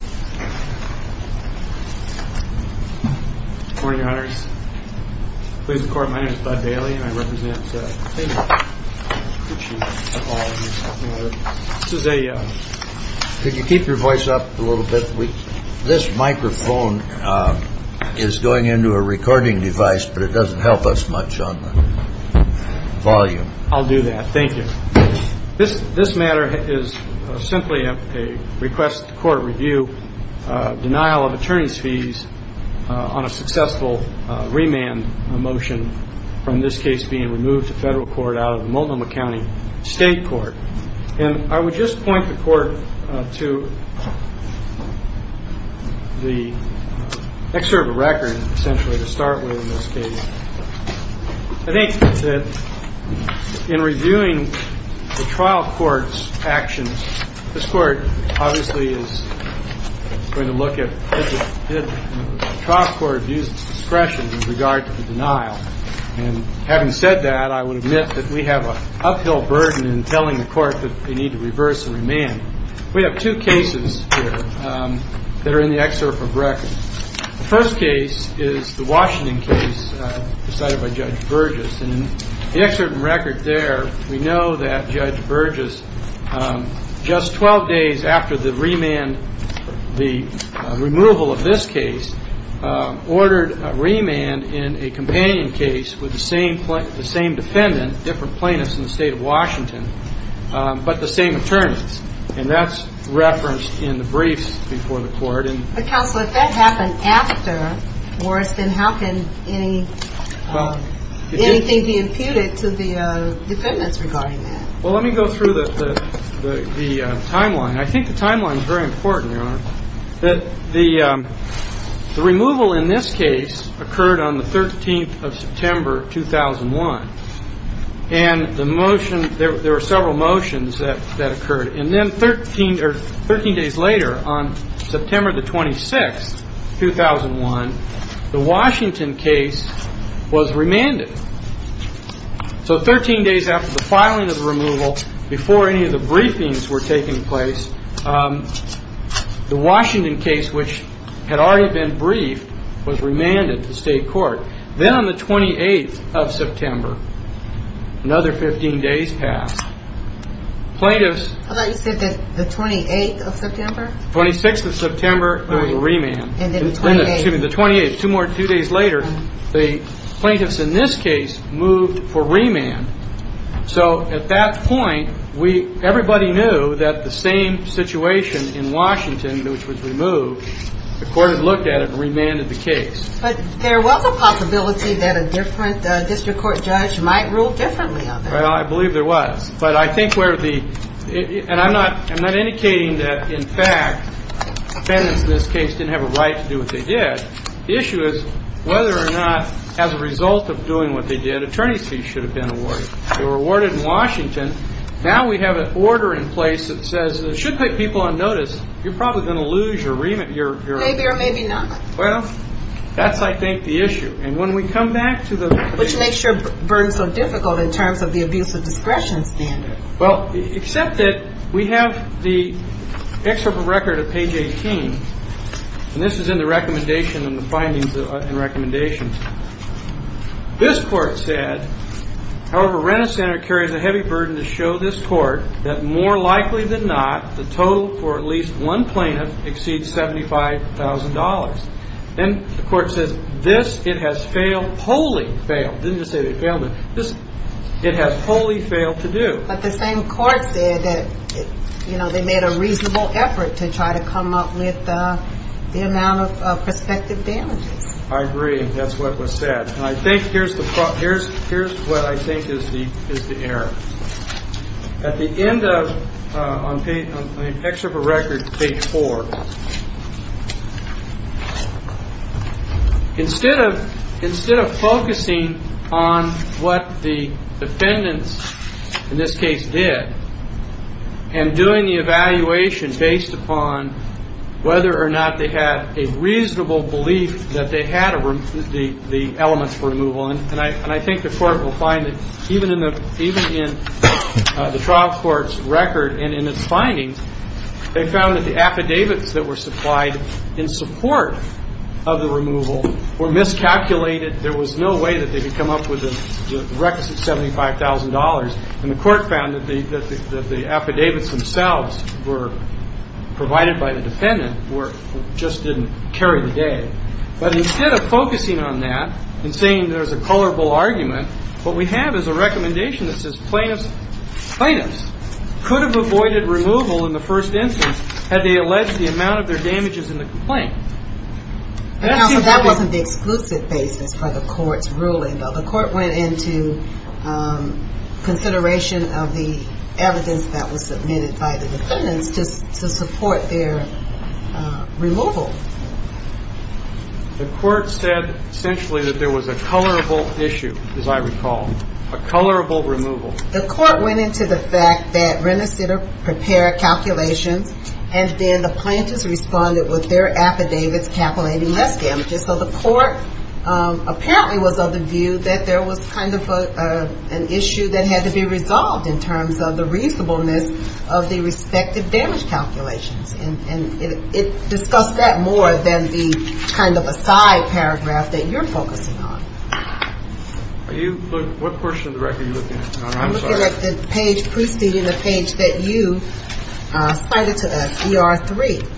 Good morning, Your Honors. Please record. My name is Bud Bailey, and I represent Pucci. Could you keep your voice up a little bit? This microphone is going into a recording device, but it doesn't help us much on the volume. I'll do that. Thank you. This matter is simply a request to court review, denial of attorney's fees on a successful remand motion, from this case being removed to federal court out of Multnomah County State Court. And I would just point the Court to the excerpt of record, essentially, to start with in this case. I think that in reviewing the trial court's actions, this Court obviously is going to look at did the trial court use discretion in regard to the denial. And having said that, I would admit that we have an uphill burden in telling the Court that they need to reverse the remand. We have two cases here that are in the excerpt of record. The first case is the Washington case decided by Judge Burgess. And in the excerpt of record there, we know that Judge Burgess, just 12 days after the remand, the removal of this case, ordered a remand in a companion case with the same defendant, different plaintiffs in the State of Washington, but the same attorneys. And that's referenced in the briefs before the Court. But, Counselor, if that happened after, then how can anything be imputed to the defendants regarding that? Well, let me go through the timeline. I think the timeline is very important, Your Honor. The removal in this case occurred on the 13th of September, 2001. And the motion, there were several motions that occurred. And then 13 days later, on September the 26th, 2001, the Washington case was remanded. So 13 days after the filing of the removal, before any of the briefings were taking place, the Washington case, which had already been briefed, was remanded to State Court. Then on the 28th of September, another 15 days passed. I thought you said the 28th of September? The 26th of September, there was a remand. And then the 28th. The plaintiffs in this case moved for remand. So at that point, everybody knew that the same situation in Washington, which was removed, the Court had looked at it and remanded the case. But there was a possibility that a different district court judge might rule differently on that. Well, I believe there was. But I think where the – and I'm not indicating that, in fact, defendants in this case didn't have a right to do what they did. The issue is whether or not, as a result of doing what they did, attorney's fees should have been awarded. They were awarded in Washington. Now we have an order in place that says it should put people on notice. You're probably going to lose your remand – Maybe or maybe not. Well, that's, I think, the issue. And when we come back to the – Which makes your burden so difficult in terms of the abuse of discretion standard. Well, except that we have the excerpt of record of page 18, and this is in the recommendation and the findings and recommendations. This Court said, however, Rent-A-Senator carries a heavy burden to show this Court that more likely than not, the total for at least one plaintiff exceeds $75,000. Then the Court says, this it has failed – wholly failed. It didn't just say they failed, but this it has wholly failed to do. But the same Court said that, you know, they made a reasonable effort to try to come up with the amount of prospective damages. I agree. That's what was said. And I think here's what I think is the error. At the end of, on the excerpt of record, page 4, instead of focusing on what the defendants in this case did and doing the evaluation based upon whether or not they had a reasonable belief that they had the elements for removal, and I think the Court will find that even in the trial court's record and in its findings, they found that the affidavits that were supplied in support of the removal were miscalculated. There was no way that they could come up with the requisite $75,000. And the Court found that the affidavits themselves were provided by the defendant or just didn't carry the day. But instead of focusing on that and saying there's a colorable argument, what we have is a recommendation that says plaintiffs could have avoided removal in the first instance had they alleged the amount of their damages in the complaint. Counsel, that wasn't the exclusive basis for the Court's ruling, though. The Court went into consideration of the evidence that was submitted by the defendants just to support their removal. The Court said essentially that there was a colorable issue, as I recall, a colorable removal. The Court went into the fact that Rennesitter prepared calculations, and then the plaintiffs responded with their affidavits calculating less damages. So the Court apparently was of the view that there was kind of an issue that had to be resolved in terms of the reasonableness of the respective damage calculations. And it discussed that more than the kind of aside paragraph that you're focusing on. What portion of the record are you looking at? I'm looking at the page preceding the page that you cited to us, ER-3.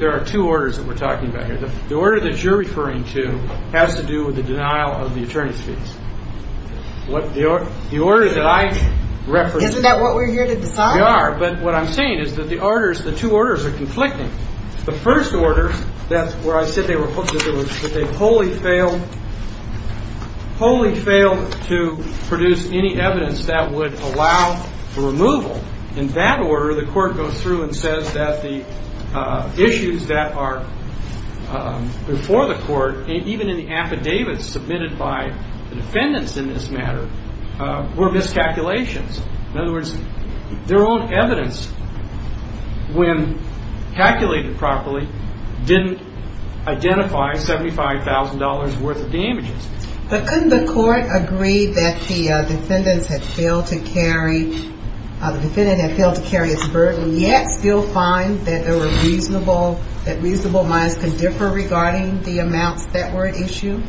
There are two orders that we're talking about here. The order that you're referring to has to do with the denial of the attorney's fees. Isn't that what we're here to decide? We are. But what I'm saying is that the two orders are conflicting. The first order, where I said they were hooked, that they wholly failed to produce any evidence that would allow the removal. In that order, the Court goes through and says that the issues that are before the Court, even in the affidavits submitted by the defendants in this matter, were miscalculations. In other words, their own evidence, when calculated properly, didn't identify $75,000 worth of damages. But couldn't the Court agree that the defendants had failed to carry its burden, yet still find that reasonable minds could differ regarding the amounts that were at issue?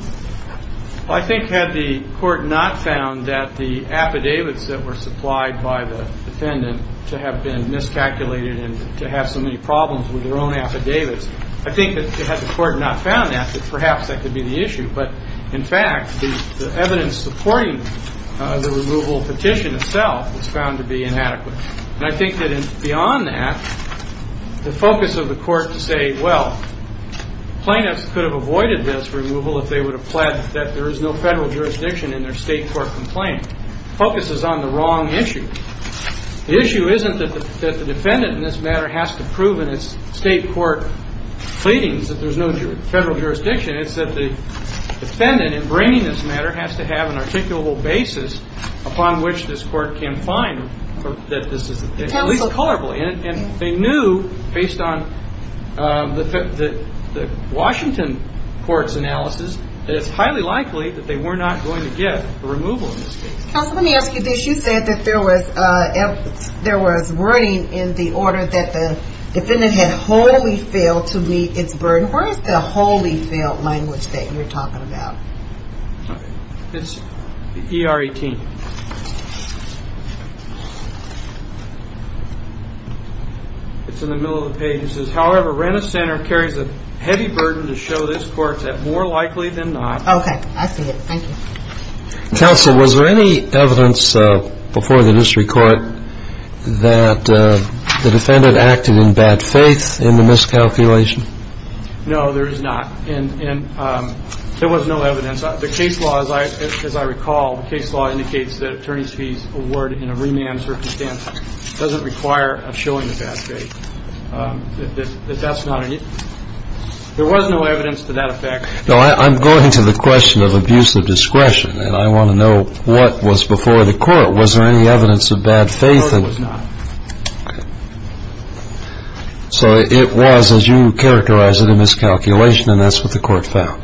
I think had the Court not found that the affidavits that were supplied by the defendant to have been miscalculated and to have so many problems with their own affidavits, I think that had the Court not found that, perhaps that could be the issue. But, in fact, the evidence supporting the removal petition itself was found to be inadequate. And I think that beyond that, the focus of the Court to say, well, plaintiffs could have avoided this removal if they would have pled that there is no federal jurisdiction in their state court complaint, focuses on the wrong issue. The issue isn't that the defendant in this matter has to prove in its state court pleadings that there's no federal jurisdiction. It's that the defendant in bringing this matter has to have an articulable basis upon which this Court can find that this is at least colorably. And they knew, based on the Washington Court's analysis, that it's highly likely that they were not going to get a removal in this case. Counsel, let me ask you this. You said that there was wording in the order that the defendant had wholly failed to meet its burden. Where is the wholly failed language that you're talking about? It's E-R-E-T. It's in the middle of the page. It says, however, Renner Center carries a heavy burden to show this Court that more likely than not. Okay, I see it. Thank you. Counsel, was there any evidence before the district court that the defendant acted in bad faith in the miscalculation? No, there is not. And there was no evidence. The case law, as I recall, the case law indicates that an attorney's fees award in a remand circumstance doesn't require a showing of bad faith. That that's not an issue. There was no evidence to that effect. No, I'm going to the question of abuse of discretion, and I want to know what was before the court. Was there any evidence of bad faith? No, there was not. Okay. So it was, as you characterized it, a miscalculation, and that's what the court found.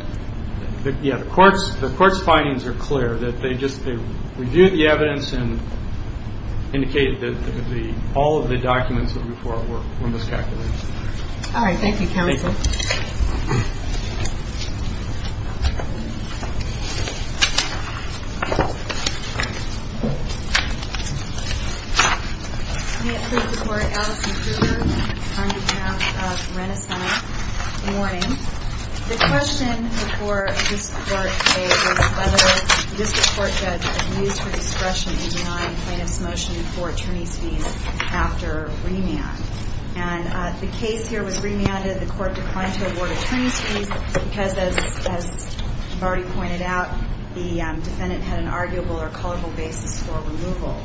Yeah. The court's findings are clear, that they just reviewed the evidence and indicated that all of the documents before it were miscalculated. All right. Thank you, Counsel. Thank you. Thank you. May it please the Court, Alison Kruger, on behalf of Rena Center, good morning. The question before this court today was whether the district court judge abused her discretion in denying plaintiff's motion for attorney's fees after remand. And the case here was remanded. The court declined to award attorney's fees because, as you've already pointed out, the defendant had an arguable or culpable basis for removal.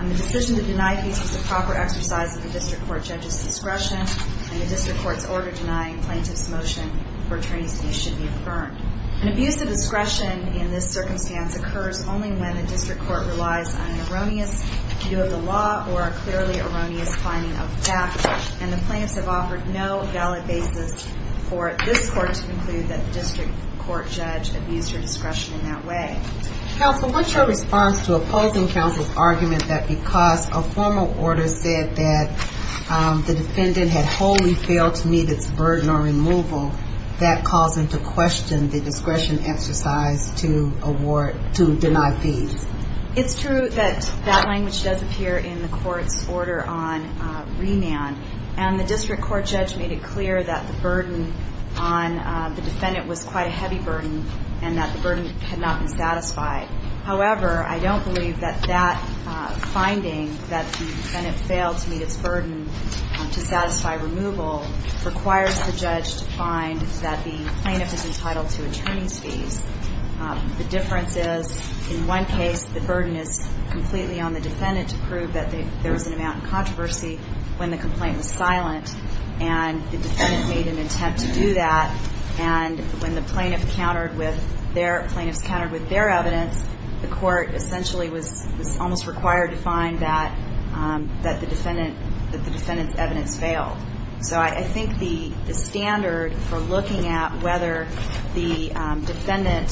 And the decision to deny fees was the proper exercise of the district court judge's discretion, and the district court's order denying plaintiff's motion for attorney's fees should be affirmed. An abuse of discretion in this circumstance occurs only when a district court relies on an erroneous view of the law or a clearly erroneous finding of facts, and the plaintiffs have offered no valid basis for this court to conclude that the district court judge abused her discretion in that way. Counsel, what's your response to opposing counsel's argument that because a formal order said that the defendant had wholly failed to meet its burden of removal, that caused them to question the discretion exercise to deny fees? It's true that that language does appear in the court's order on remand, and the district court judge made it clear that the burden on the defendant was quite a heavy burden and that the burden had not been satisfied. However, I don't believe that that finding, that the defendant failed to meet its burden to satisfy removal, requires the judge to find that the plaintiff is entitled to attorney's fees. The difference is, in one case, the burden is completely on the defendant to prove that there was an amount of controversy when the complaint was silent, and the defendant made an attempt to do that, and when the plaintiff countered with their evidence, the court essentially was almost required to find that the defendant's evidence failed. So I think the standard for looking at whether the defendant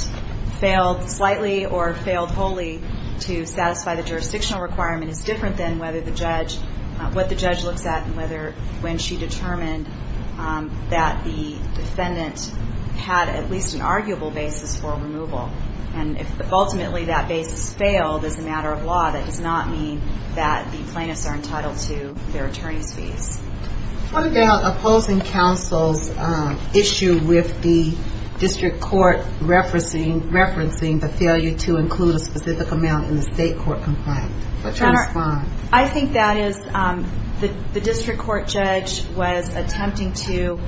failed slightly or failed wholly to satisfy the jurisdictional requirement is different than what the judge looks at when she determined that the defendant had at least an arguable basis for removal. And if ultimately that basis failed as a matter of law, that does not mean that the plaintiffs are entitled to their attorney's fees. What about opposing counsel's issue with the district court referencing the failure to include a specific amount in the state court complaint? I think that is, the district court judge was attempting to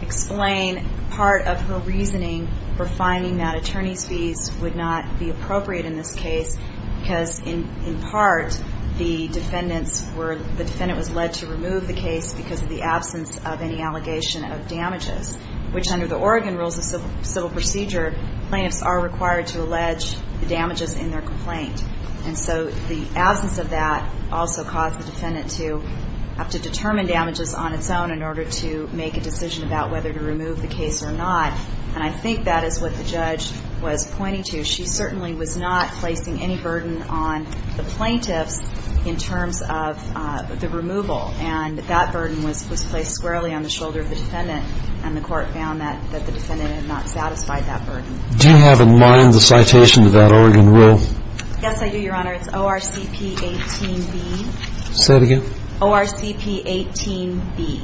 explain part of her reasoning for finding that attorney's fees would not be appropriate in this case because, in part, the defendant was led to remove the case because of the absence of any allegation of damages, which under the Oregon rules of civil procedure, plaintiffs are required to allege the damages in their complaint. And so the absence of that also caused the defendant to have to determine damages on its own in order to make a decision about whether to remove the case or not, and I think that is what the judge was pointing to. She certainly was not placing any burden on the plaintiffs in terms of the removal, and that burden was placed squarely on the shoulder of the defendant, and the court found that the defendant had not satisfied that burden. Do you have in mind the citation of that Oregon rule? Yes, I do, Your Honor. It's O-R-C-P-18-B. Say that again? O-R-C-P-18-B.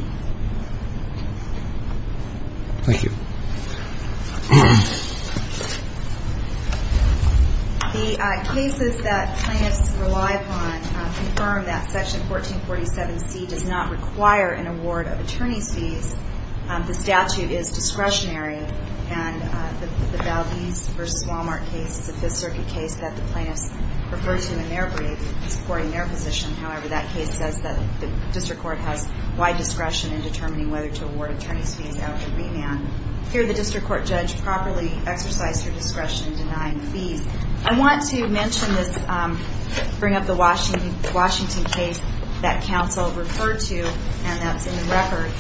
Thank you. The cases that plaintiffs rely upon confirm that Section 1447C does not require an award of attorney's fees. The statute is discretionary, and the Valdez v. Wal-Mart case is a Fifth Circuit case that the plaintiffs refer to in their brief supporting their position. However, that case says that the district court has wide discretion in determining whether to award attorney's fees out of remand. Here, the district court judge properly exercised her discretion in denying the fees. I want to mention this, bring up the Washington case that counsel referred to, and that's in the record.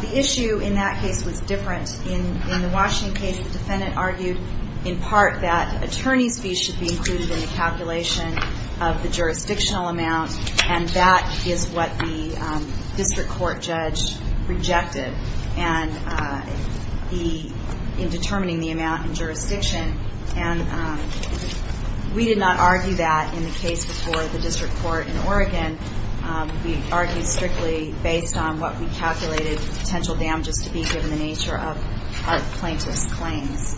The issue in that case was different. In the Washington case, the defendant argued in part that attorney's fees should be included in the calculation of the jurisdictional amount, and that is what the district court judge rejected in determining the amount in jurisdiction. And we did not argue that in the case before the district court in Oregon. We argued strictly based on what we calculated the potential damages to be given the nature of our plaintiff's claims.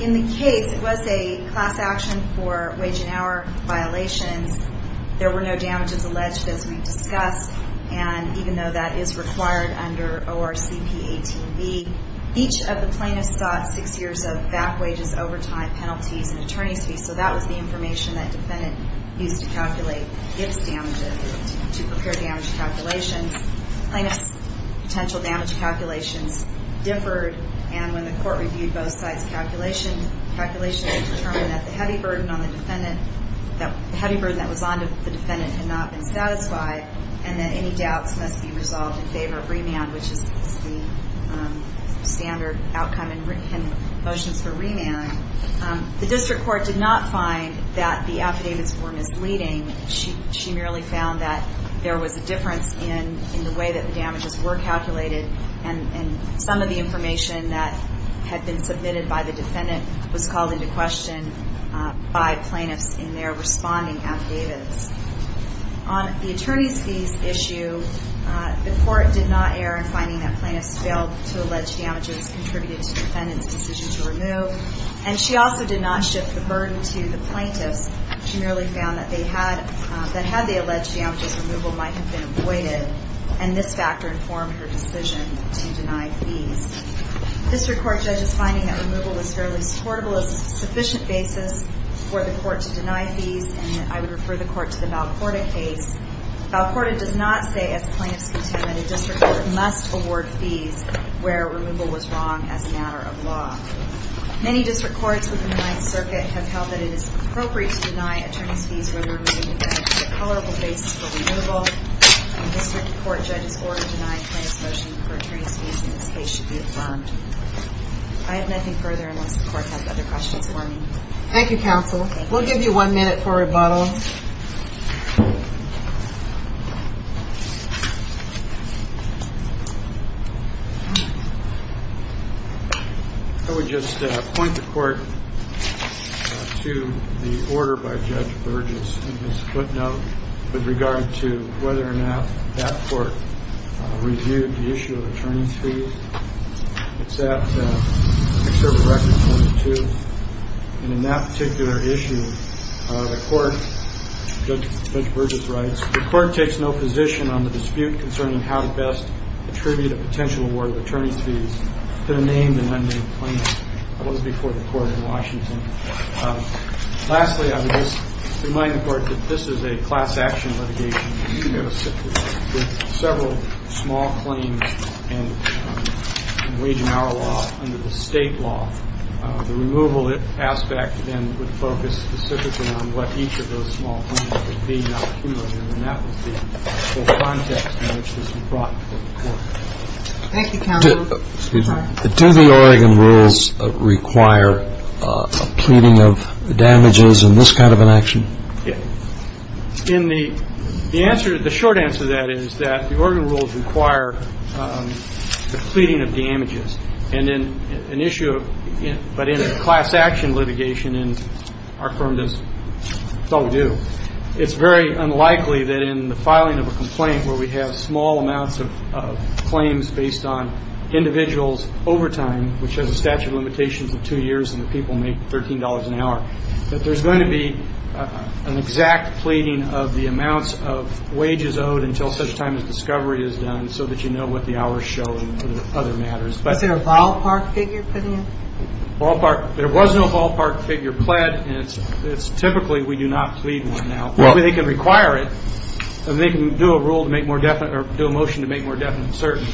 In the case, it was a class action for wage and hour violations. There were no damages alleged, as we discussed, and even though that is required under ORCP 18B, each of the plaintiffs got six years of back wages, overtime, penalties, and attorney's fees. So that was the information that the defendant used to calculate its damages, to prepare damage calculations. The plaintiff's potential damage calculations differed, and when the court reviewed both sides' calculations, it determined that the heavy burden that was on the defendant had not been satisfied, and that any doubts must be resolved in favor of remand, which is the standard outcome in motions for remand. The district court did not find that the affidavits were misleading. She merely found that there was a difference in the way that the damages were calculated, and some of the information that had been submitted by the defendant was called into question by plaintiffs in their responding affidavits. On the attorney's fees issue, the court did not err in finding that plaintiffs failed to allege damages contributed to the defendant's decision to remove, and she also did not shift the burden to the plaintiffs. She merely found that had they alleged damages, removal might have been avoided, and this factor informed her decision to deny fees. District court judges finding that removal was fairly supportable is a sufficient basis for the court to deny fees, and I would refer the court to the Valcorda case. Valcorda does not say, as plaintiffs contend, that a district court must award fees where removal was wrong as a matter of law. Many district courts within the Ninth Circuit have held that it is appropriate to deny attorney's fees when removing the defendant to a tolerable basis for removal, and district court judges' order to deny a plaintiff's motion for attorney's fees in this case should be affirmed. I have nothing further unless the court has other questions for me. Thank you, counsel. We'll give you one minute for rebuttal. I would just point the court to the order by Judge Burgess in his footnote with regard to whether or not that court reviewed the issue of attorney's fees. It's at conservative records number two, and in that particular issue, the court, Judge Burgess writes, the court takes no position on the dispute concerning how to best attribute a potential award of attorney's fees to the named and unnamed plaintiff. That was before the court in Washington. Lastly, I would just remind the court that this is a class action litigation. With several small claims in wage and hour law under the state law, the removal aspect then would focus specifically on what each of those small claims would be, and that would be the context in which this would be brought before the court. Thank you, counsel. Do the Oregon rules require a pleading of damages in this kind of an action? In the answer, the short answer to that is that the Oregon rules require the pleading of damages. And then an issue of it. But in a class action litigation and our firm does so do, it's very unlikely that in the filing of a complaint where we have small amounts of claims based on individuals overtime, which has a statute of limitations of two years and the people make $13 an hour, that there's going to be an exact pleading of the amounts of wages owed until such time as discovery is done so that you know what the hour is showing for the other matters. Was there a ballpark figure put in? Ballpark? There was no ballpark figure pled, and it's typically we do not plead one now. They can require it, and they can do a rule to make more definite or do a motion to make more definite certainty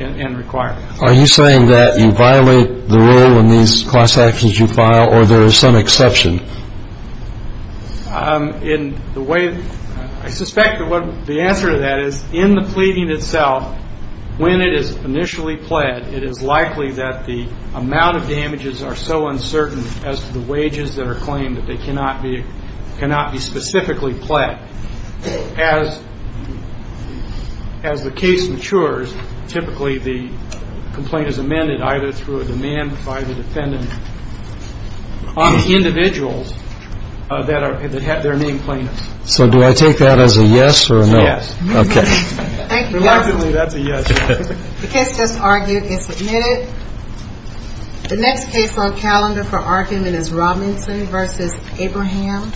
and require it. Are you saying that you violate the rule in these class actions you file or there is some exception? In the way, I suspect the answer to that is in the pleading itself, when it is initially pled, it is likely that the amount of damages are so uncertain as to the wages that are claimed that they cannot be specifically pled. As the case matures, typically the complaint is amended either through a demand by the defendant on individuals that have their name plaintiffs. So do I take that as a yes or a no? Yes. Okay. Thank you, Your Honor. Reluctantly, that's a yes. The case just argued and submitted. The next case on calendar for argument is Robinson v. Abraham. Thank you.